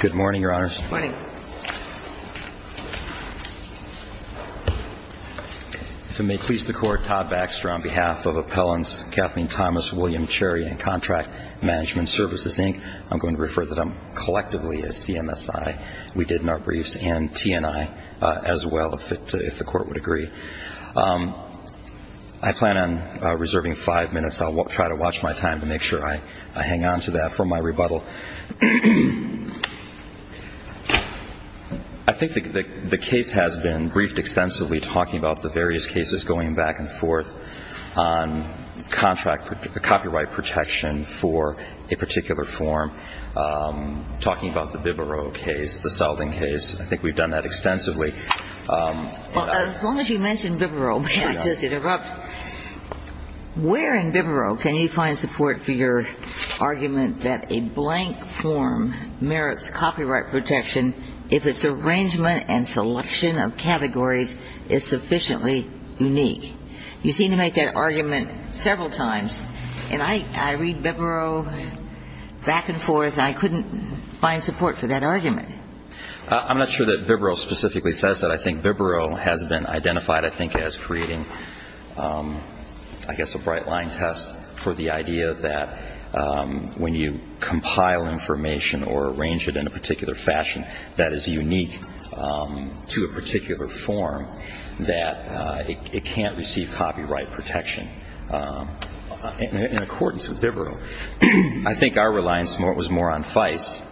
Good morning, Your Honors. Good morning. If it may please the Court, Todd Baxter on behalf of Appellants Kathleen Thomas, William Cherry and Contract Management Services, Inc. I'm going to refer to them collectively as CMSI. We did in our briefs, and TNI as well, if the Court would agree. I plan on reserving five minutes. I'll try to watch my time to make sure I hang on to that for my rebuttal. I think the case has been briefed extensively, talking about the various cases going back and forth on copyright protection for a particular form, talking about the Bibaro case, the Selden case. I think we've done that extensively. Well, as long as you mention Bibaro, may I just interrupt? Where in Bibaro can you find support for your argument that a blank form merits copyright protection if its arrangement and selection of categories is sufficiently unique? You seem to make that argument several times. And I read Bibaro back and forth, and I couldn't find support for that argument. I'm not sure that Bibaro specifically says that. I think Bibaro has been identified, I think, as creating, I guess, a bright-line test for the idea that when you compile information or arrange it in a particular fashion that is unique to a particular form, that it can't receive copyright protection in accordance with Bibaro. I think our reliance was more on Feist,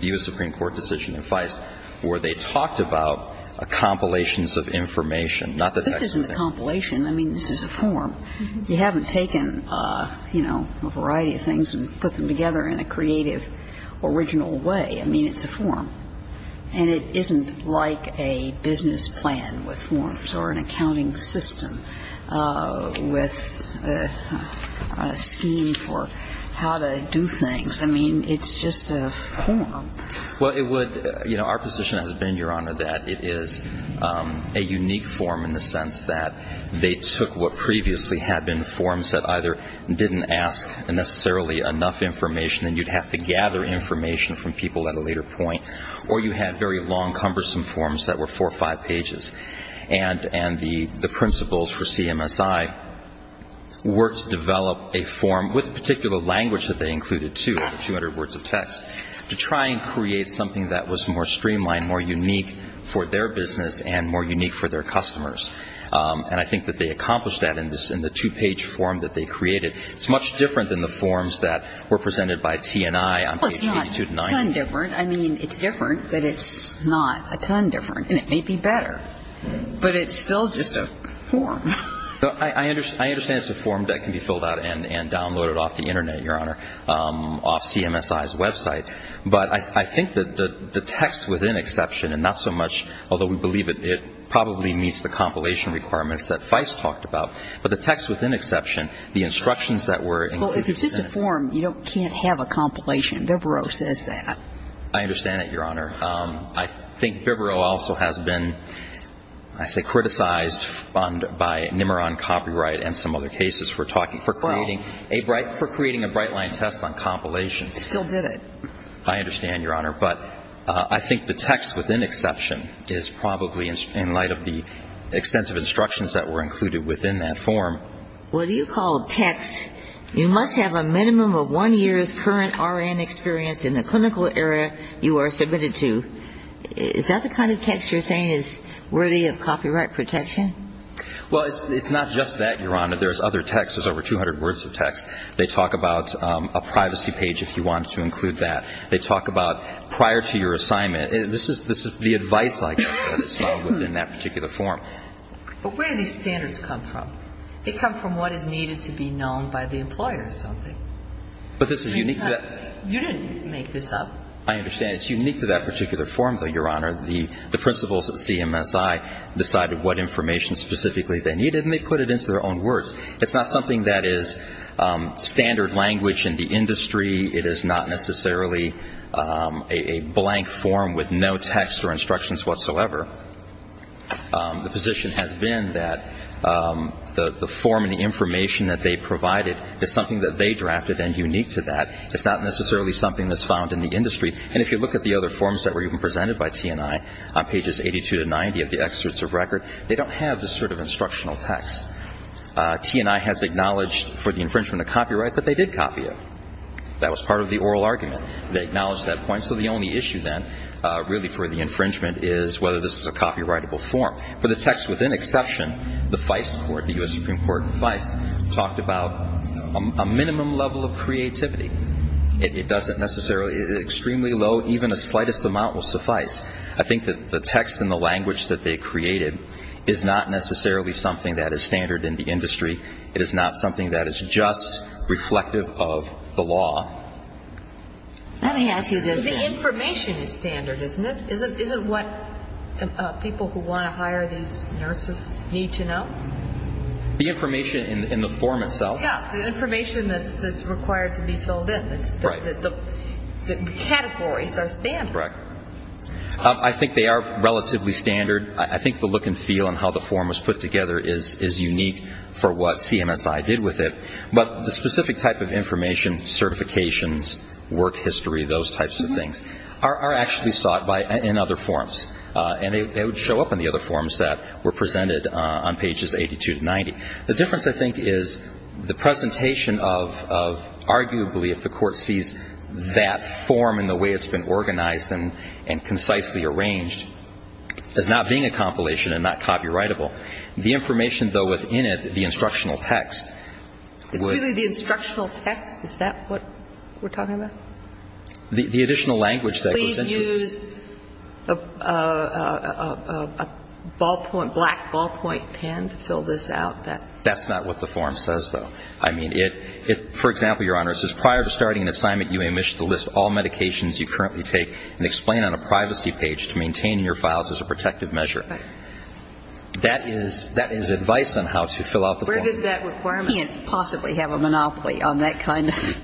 the U.S. Supreme Court decision in Feist, where they talked about compilations of information, not the text of it. This isn't a compilation. I mean, this is a form. You haven't taken, you know, a variety of things and put them together in a creative, original way. I mean, it's a form. And it isn't like a business plan with forms or an accounting system with a scheme for how to do things. I mean, it's just a form. Well, it would, you know, our position has been, Your Honor, that it is a unique form in the sense that they took what previously had been forms that either didn't ask necessarily enough information and you'd have to gather information from people at a later point, or you had very long, cumbersome forms that were four or five pages. And the principles for CMSI were to develop a form with particular language that they could not create something that was more streamlined, more unique for their business and more unique for their customers. And I think that they accomplished that in the two-page form that they created. It's much different than the forms that were presented by T&I on pages 82 to 90. Well, it's not a ton different. I mean, it's different, but it's not a ton different. And it may be better. But it's still just a form. I understand it's a form that can be filled out and downloaded off the Internet, Your Honor. I think that the text within Exception, and not so much, although we believe it probably meets the compilation requirements that FICE talked about, but the text within Exception, the instructions that were included in it. Well, if it's just a form, you can't have a compilation. Bivero says that. I understand that, Your Honor. I think Bivero also has been, I say, criticized by Nimiron Copyright and some other cases for talking, for creating a bright line test on compilations. Still did it. I understand, Your Honor. But I think the text within Exception is probably in light of the extensive instructions that were included within that form. What do you call text, you must have a minimum of one year's current R.N. experience in the clinical area you are submitted to. Is that the kind of text you're saying is worthy of copyright protection? Well, it's not just that, Your Honor. There's other texts. There's over 200 words of text. They talk about a privacy page if you wanted to include that. They talk about prior to your assignment. This is the advice, I guess, that it's about within that particular form. But where do these standards come from? They come from what is needed to be known by the employers, don't they? But this is unique to that. You didn't make this up. I understand. It's unique to that particular form, though, Your Honor. The principals at CMSI decided what information specifically they needed, and they put it into their own words. It's not something that is standard language in the industry. It is not necessarily a blank form with no text or instructions whatsoever. The position has been that the form and the information that they provided is something that they drafted and unique to that. It's not necessarily something that's found in the industry. And if you look at the other forms that were even presented by T&I on pages 82 to 90 of the excerpts of record, they don't have this sort of instructional text. T&I has acknowledged for the infringement of copyright that they did copy it. That was part of the oral argument. They acknowledged that point. So the only issue then, really, for the infringement is whether this is a copyrightable form. For the text, with an exception, the U.S. Supreme Court in Feist talked about a minimum level of creativity. It doesn't necessarily – extremely low, even a slightest amount will suffice. I think that the text and the language that they created is not necessarily something that is standard in the industry. It is not something that is just reflective of the law. The information is standard, isn't it? Isn't what people who want to hire these nurses need to know? The information in the form itself? Yeah, the information that's required to be filled in. The categories are standard. I think they are relatively standard. I think the look and feel and how the form was put together is unique for what CMSI did with it. But the specific type of information – certifications, work history, those types of things – are actually sought in other forms. And they would show up in the other forms that were presented on pages 82 to 90. The difference, I think, is the presentation of – arguably, if the Court sees that form in the way it's been organized and concisely arranged, is not being a compilation and not copyrightable. The information, though, within it, the instructional text would – It's really the instructional text? Is that what we're talking about? The additional language that goes into it. Please use a ballpoint – black ballpoint pen to fill this out. That's not what the form says, though. I mean, it – for example, Your Honor, it says, all medications you currently take and explain on a privacy page to maintain in your files as a protective measure. That is – that is advice on how to fill out the form. Where does that requirement – We can't possibly have a monopoly on that kind of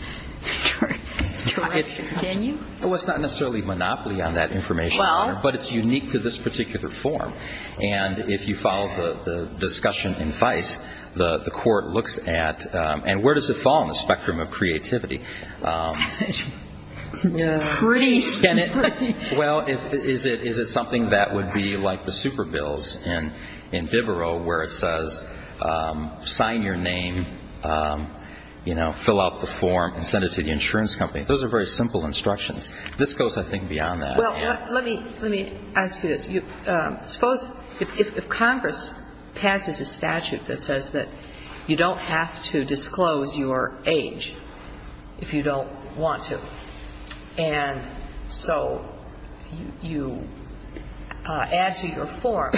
information, can you? Well, it's not necessarily a monopoly on that information, Your Honor, but it's unique to this particular form. And if you follow the discussion in FICE, the Court looks at – and where does it fall on the spectrum of creativity? Pretty – Can it – well, is it – is it something that would be like the super bills in – in Bivero where it says, sign your name, you know, fill out the form and send it to the insurance company? Those are very simple instructions. This goes, I think, beyond that. Well, let me – let me ask you this. Suppose if Congress passes a statute that says that you don't have to disclose your age if you don't want to, and so you add to your form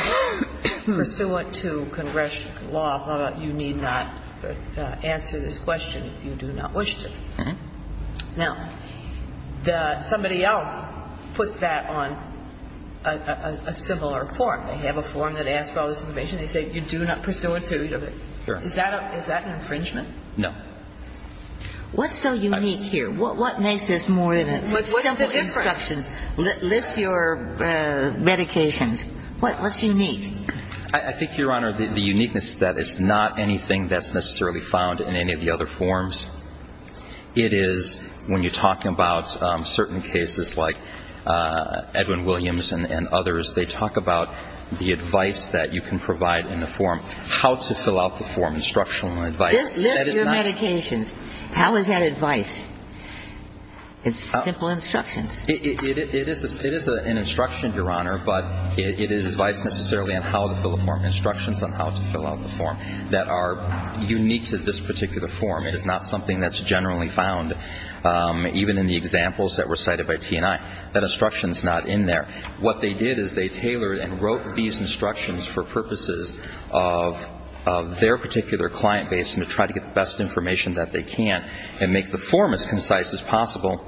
pursuant to Congressional law, you need not answer this question if you do not wish to. Now, the – somebody else puts that on a – a similar form. They have a form that says, well, you know, you have to disclose your age if you don't want to. Is that a – is that an infringement? No. What's so unique here? What – what makes this more than a simple instruction? What's the difference? List your medications. What's unique? I think, Your Honor, the – the uniqueness is that it's not anything that's necessarily found in any of the other forms. It is when you talk about certain cases like Edwin Williams and – and others, they talk about the advice that you can provide in the form, how to fill And it's a very broad spectrum of information. And it's a very broad spectrum of information. instruction, Your Honor, but it is advice necessarily on how to fill a form, instructions on how to fill out the form that are unique to this particular form. It is not something that's generally found even in the examples that were cited by T&I. That instruction is not in there. What they did is they tailored and wrote these instructions for purposes of their particular client base and to try to get the best information that they can and make the form as concise as possible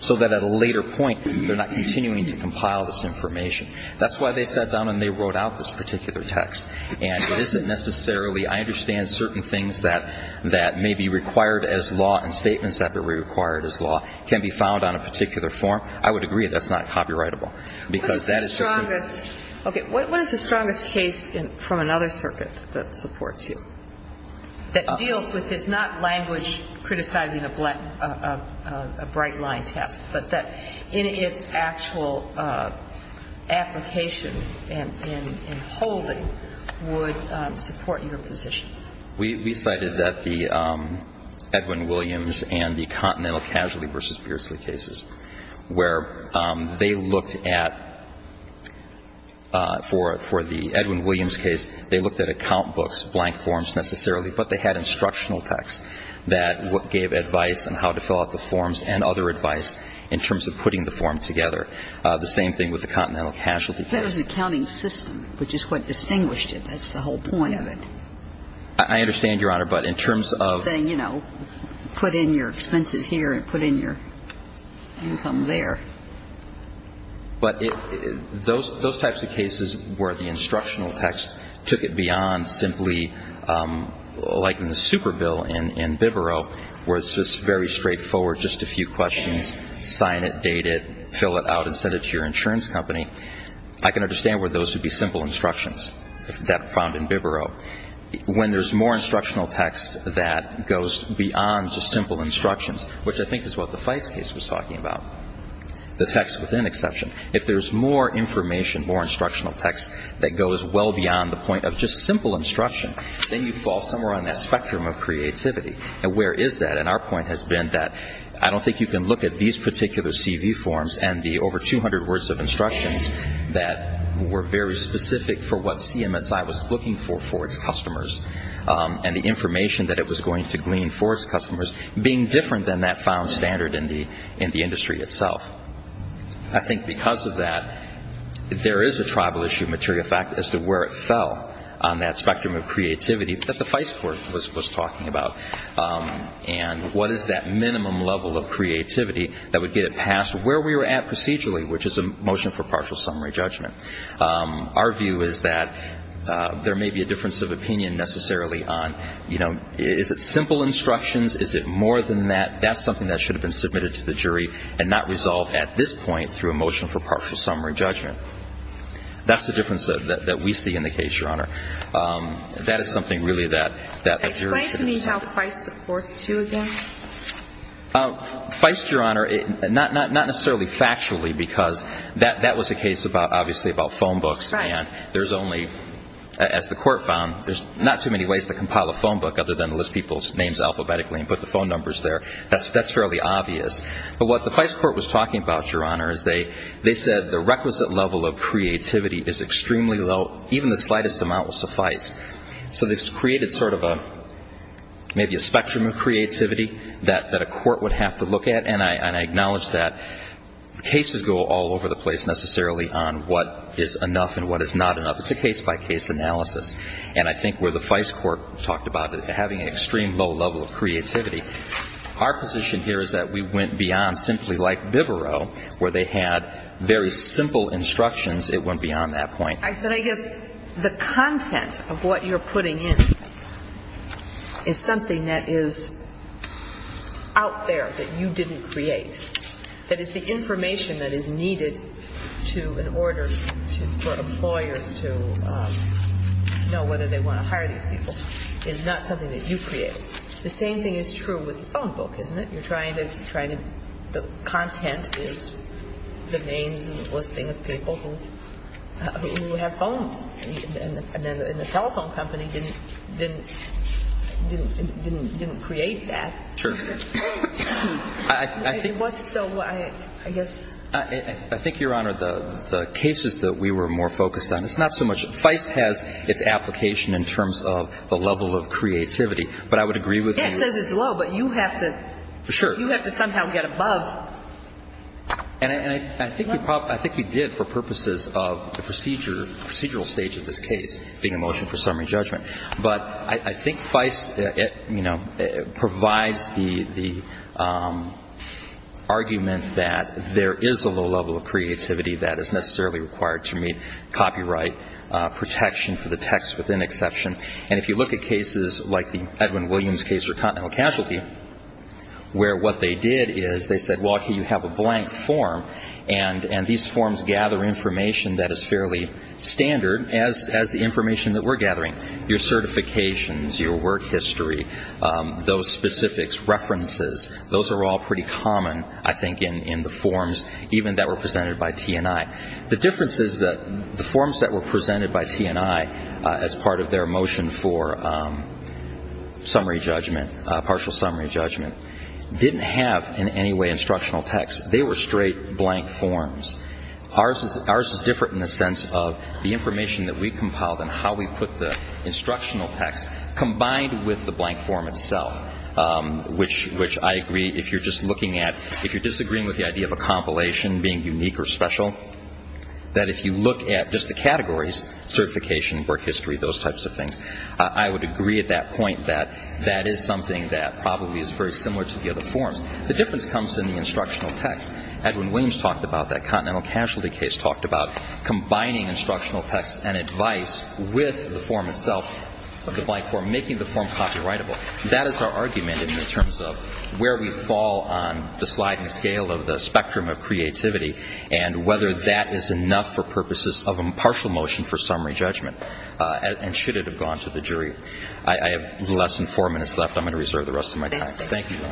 so that at a later point, they're not continuing to compile this information. That's why they sat down and they wrote out this particular text. And it isn't necessarily – I understand certain things that – that may be required as law and statements that may be required as law can be found on a particular form. I would agree that's not copyrightable. What is the strongest – okay, what is the strongest case from another circuit that supports you, that deals with – it's not language criticizing a bright-line test, but that in its actual application and holding would support your position? We cited that the Edwin Williams and the Continental Casualty v. Beardsley cases, where they looked at – for the Edwin Williams case, they looked at account books, blank forms necessarily, but they had instructional text that gave advice on how to fill out the forms and other advice in terms of putting the form together. The same thing with the Continental Casualty case. But it was an accounting system, which is what distinguished it. That's the whole point of it. I understand, Your Honor, but in terms of – Saying, you know, put in your expenses here and put in your income there. But it – those types of cases where the instructional text took it beyond simply, like in the super bill in Bibero, where it's just very straightforward, just a few questions, sign it, date it, fill it out and send it to your insurance company, I can understand where those would be simple instructions that are found in Bibero. When there's more instructional text that goes beyond just simple instructions, which I think is what the Feist case was talking about, the text within exception, if there's more information, more instructional text that goes well beyond the point of just simple instruction, then you fall somewhere on that spectrum of creativity. And where is that? And our point has been that I don't think you can look at these particular CV forms and the over 200 words of instructions that were very specific for what CMSI was looking for for its customers, and the information that it was going to glean for its customers being different than that found standard in the industry itself. I think because of that, there is a tribal issue of material fact as to where it fell on that spectrum of creativity that the Feist court was talking about. And what is that minimum level of creativity that would get it past where we were at procedurally, which is a motion for partial summary judgment. Our view is that there may be a difference of opinion necessarily on, you know, is it simple instructions, is it more than that, that's something that should have been submitted to the jury and not resolved at this point through a motion for partial summary judgment. That's the difference that we see in the case, Your Honor. That is something really that the jury should have considered. Explain to me how Feist supports you again. Feist, Your Honor, not necessarily factually because that was a case obviously about phone books and there's only, as the court found, there's not too many ways to compile a phone book other than list people's names alphabetically and put the phone numbers there. That's fairly obvious. But what the Feist court was talking about, Your Honor, is they said the requisite level of creativity is extremely low, even the slightest amount will suffice. So this created sort of a, maybe a spectrum of creativity that a court would have to look at and I acknowledge that cases go all over the place necessarily on what is enough and what is not enough. It's a case-by-case analysis. And I think where the Feist court talked about having an extreme low level of creativity, our position here is that we went beyond simply like Bivero where they had very simple instructions. It went beyond that point. But I guess the content of what you're putting in is something that is out there that you didn't create. That is the information that is needed to, in order for employers to know whether they want to hire these people is not something that you created. The same thing is true with the phone book, isn't it? You're trying to, the content is the names and the listing of people who have phones. And the telephone company didn't create that. True. It was so, I guess. I think, Your Honor, the cases that we were more focused on, it's not so much, Feist has its application in terms of the level of creativity. But I would agree with you. It says it's low, but you have to. Sure. You have to somehow get above. And I think you did for purposes of the procedural stage of this case, being a motion for summary judgment. But I think Feist provides the argument that there is a low level of creativity that is necessarily required to meet copyright protection for the text within exception. And if you look at cases like the Edwin Williams case for continental casualty, where what they did is they said, well, okay, you have a blank form, and these forms gather information that is fairly standard as the information that we're gathering. Your certifications, your work history, those specifics, references, those are all pretty common, I think, in the forms even that were presented by T&I. The difference is that the forms that were presented by T&I as part of their motion for summary judgment, partial summary judgment, didn't have in any way instructional text. They were straight blank forms. Ours is different in the sense of the information that we compiled and how we put the instructional text combined with the blank form itself, which I agree, if you're just looking at, if you're disagreeing with the idea of a compilation being unique or special, that if you look at just the categories, certification, work history, those types of things, I would agree at that point that that is something that probably is very similar to the other forms. The difference comes in the instructional text. Edwin Williams talked about that. Continental Casualty Case talked about combining instructional text and advice with the form itself, the blank form, making the form copyrightable. That is our argument in terms of where we fall on the sliding scale of the spectrum of creativity and whether that is enough for purposes of a partial motion for summary judgment, and should it have gone to the jury. I have less than four minutes left. I'm going to reserve the rest of my time. Thank you. Thank you, Your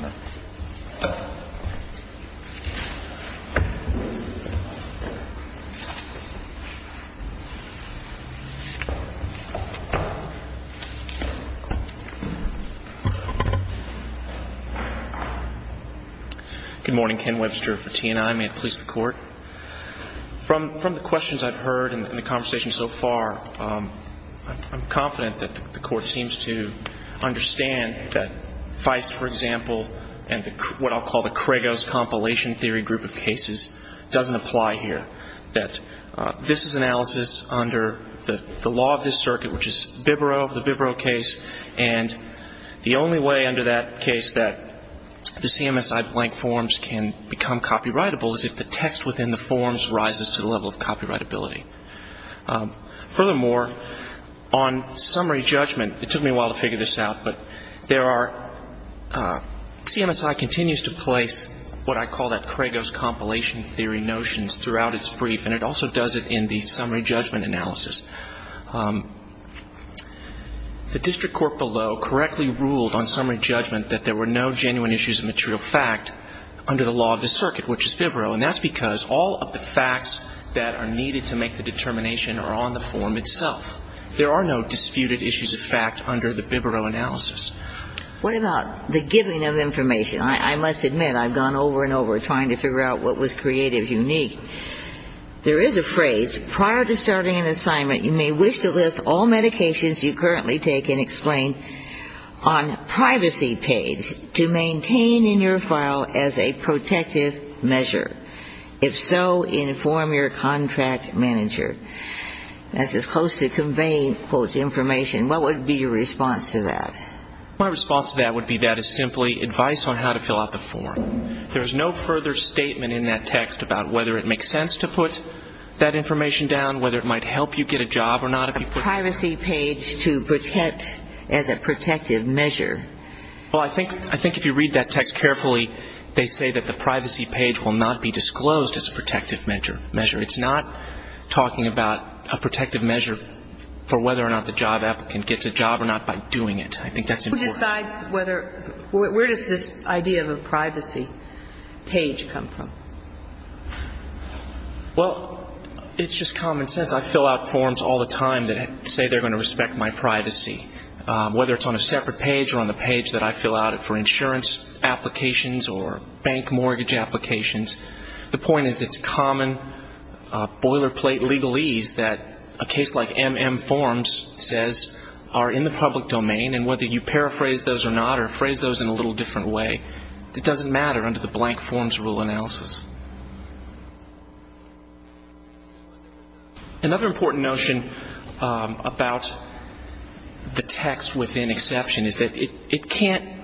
Honor. Good morning. Ken Webster for T&I. May it please the Court. From the questions I've heard in the conversation so far, I'm confident that the Court seems to understand that FICE, for example, and what I'll call the Kregos Compilation Theory group of cases doesn't apply here, that this is analysis under the law of this circuit, which is the Bibro case, and the only way under that case that the CMSI blank forms can become copyrightable is if the text within the forms rises to the level of copyrightability. Furthermore, on summary judgment, it took me a while to figure this out, but there are CMSI continues to place what I call that Kregos Compilation Theory notions throughout its brief, and it also does it in the summary judgment analysis. The district court below correctly ruled on summary judgment that there were no genuine issues of material fact under the law of this circuit, which is Bibro, and that's because all of the facts that are needed to make the determination are on the form itself. There are no disputed issues of fact under the Bibro analysis. What about the giving of information? I must admit, I've gone over and over trying to figure out what was creative, unique. There is a phrase, prior to starting an assignment, you may wish to list all medications you currently take and explain on privacy page to maintain in your file as a protective measure. If so, inform your contract manager. This is close to conveying, quote, information. What would be your response to that? My response to that would be that is simply advice on how to fill out the form. There is no further statement in that text about whether it makes sense to put that information down, whether it might help you get a job or not. A privacy page to protect as a protective measure. Well, I think if you read that text carefully, they say that the privacy page will not be disclosed as a protective measure. It's not talking about a protective measure for whether or not the job applicant gets a job or not by doing it. I think that's important. Who decides whether, where does this idea of a privacy page come from? Well, it's just common sense. I fill out forms all the time that say they're going to respect my privacy, whether it's on a separate page or on the page that I fill out for insurance applications or bank mortgage applications. The point is it's common boilerplate legalese that a case like M.M. Forms says are in the public domain and whether you paraphrase those or not or phrase those in a little different way, it doesn't matter under the blank forms rule analysis. Another important notion about the text within exception is that it can't,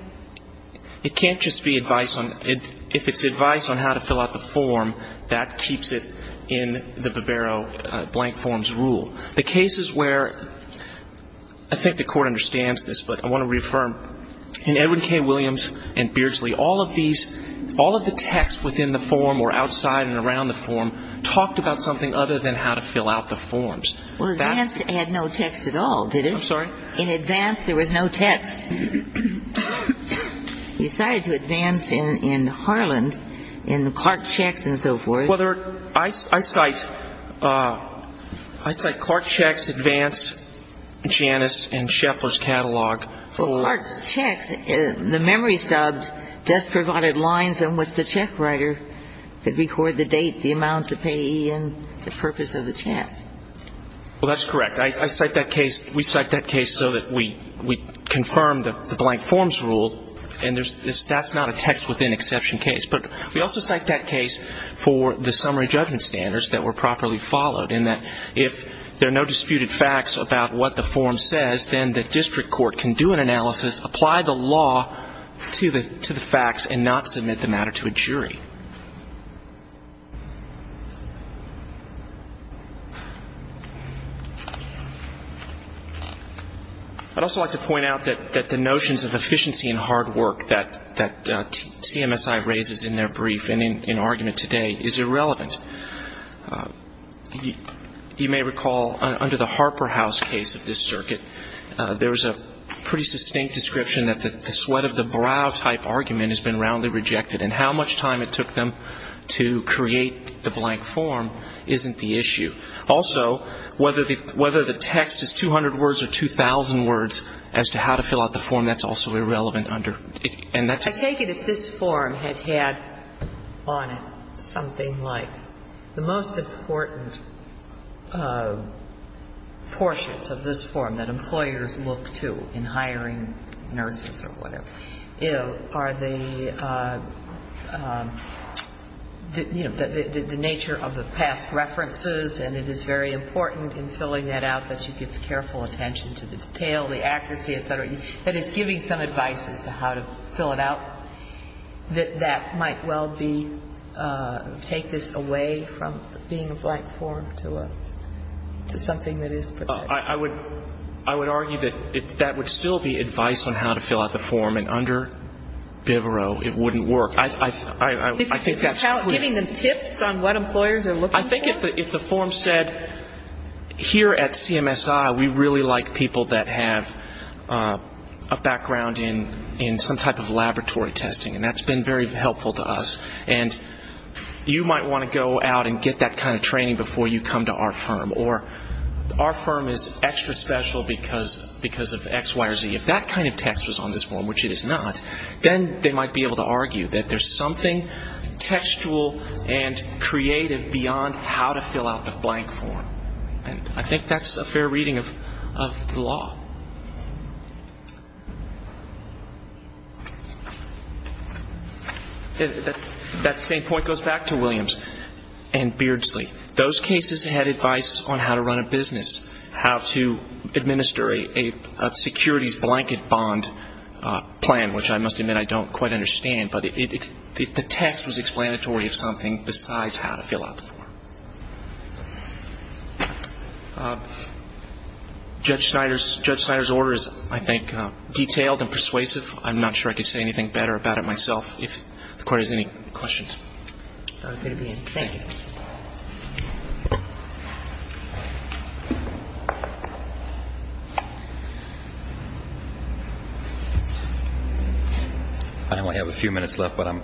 it can't just be advice on, if it's advice on how to fill out the form, that keeps it in the Bivero blank forms rule. The cases where, I think the Court understands this, but I want to reaffirm, in Edwin K. Williams and Beardsley, all of these, all of the text within the form or outside and around the form talked about something other than how to fill out the forms. Well, Advance had no text at all, did it? I'm sorry? In Advance there was no text. You cited to Advance in Harland, in Clark Checks and so forth. Well, there are, I cite, I cite Clark Checks, Advance, Janus and Shepler's Catalog. Well, Clark Checks, the memory stub just provided lines in which the check writer could record the date, the amount to pay and the purpose of the check. Well, that's correct. I cite that case, we cite that case so that we confirm the blank forms rule and there's, that's not a text within exception case. But we also cite that case for the summary judgment standards that were properly followed in that if there are no disputed facts about what the form says, then the district court can do an analysis, apply the law to the facts and not submit the matter to a jury. I'd also like to point out that the notions of efficiency and hard work that CMSI raises in their brief and in argument today is irrelevant. You may recall under the Harper House case of this circuit, there was a pretty distinct description that the sweat of the brow type argument has been roundly rejected. And how much time it took them to create the blank form isn't the issue. Also, whether the text is 200 words or 2,000 words as to how to fill out the form, that's also irrelevant under. I take it if this form had had on it something like the most important portions of this form that employers look to in hiring nurses or whatever, you know, are the, you know, the nature of the past references and it is very important in filling that out that you give careful attention to the detail, the accuracy, et cetera. That is, giving some advice as to how to fill it out, that that might well be, take this away from being a blank form to something that is protected. I would argue that that would still be advice on how to fill out the form, and under Bivero it wouldn't work. I think that's clear. Giving them tips on what employers are looking for? I think if the form said, here at CMSI we really like people that have a background in some type of laboratory testing, and that's been very helpful to us. And you might want to go out and get that kind of training before you come to our firm. Or our firm is extra special because of X, Y, or Z. If that kind of text was on this form, which it is not, then they might be able to argue that there's something textual and creative beyond how to fill out the blank form. And I think that's a fair reading of the law. That same point goes back to Williams and Beardsley. Those cases had advice on how to run a business, how to administer a securities blanket bond plan, which I must admit I don't quite understand. But the text was explanatory of something besides how to fill out the form. Judge Snyder's order is, I think, detailed and persuasive. I'm not sure I could say anything better about it myself. If the Court has any questions. Thank you. I only have a few minutes left, but I'm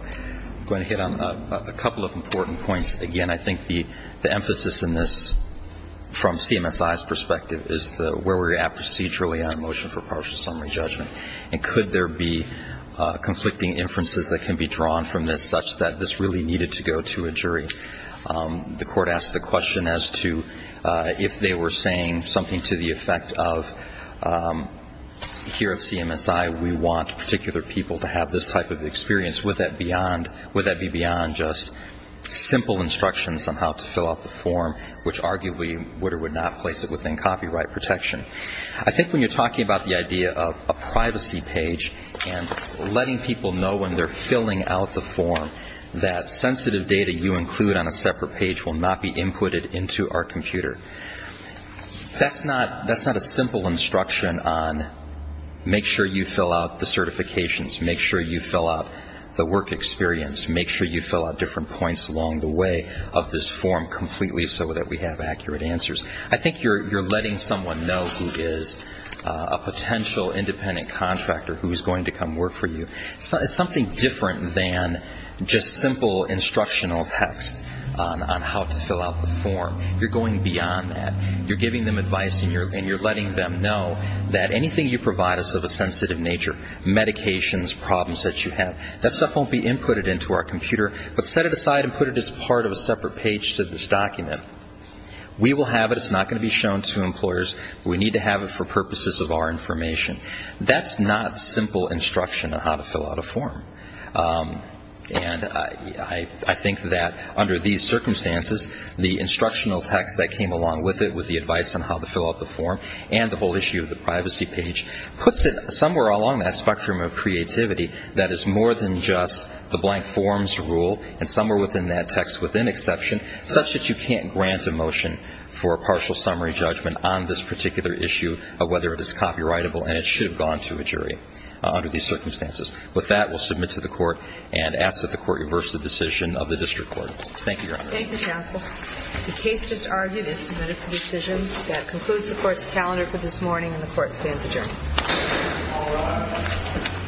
going to hit on a couple of important points. Again, I think the emphasis in this from CMSI's perspective is where we're at procedurally on a motion for partial summary judgment. And could there be conflicting inferences that can be drawn from this such that this really needed to go to a jury? The Court asked the question as to if they were saying something to the effect of, here at CMSI we want particular people to have this type of experience, would that be beyond just simple instructions on how to fill out the form, which arguably would or would not place it within copyright protection? I think when you're talking about the idea of a privacy page and letting people know when they're filling out the form that sensitive data you include on a separate page will not be inputted into our computer, that's not a simple instruction on make sure you fill out the certifications, make sure you fill out the work experience, make sure you fill out different points along the way of this form completely so that we have accurate answers. I think you're letting someone know who is a potential independent contractor who is going to come work for you. It's something different than just simple instructional text on how to fill out the form. You're going beyond that. You're giving them advice and you're letting them know that anything you provide is of a sensitive nature, medications, problems that you have, that stuff won't be inputted into our computer, but set it aside and put it as part of a separate page to this document. We will have it. It's not going to be shown to employers. We need to have it for purposes of our information. That's not simple instruction on how to fill out a form. And I think that under these circumstances, the instructional text that came along with it with the advice on how to fill out the form and the whole issue of the privacy page puts it somewhere along that spectrum of creativity that is more than just the blank forms rule and somewhere within that text within exception such that you can't grant a motion for a partial summary judgment on this particular issue of whether it is copyrightable and it should have gone to a jury under these circumstances. With that, we'll submit to the court and ask that the court reverse the decision of the district court. Thank you, Your Honor. Thank you, counsel. The case just argued is submitted for decision. That concludes the court's calendar for this morning and the court stands adjourned. All rise. Thank you.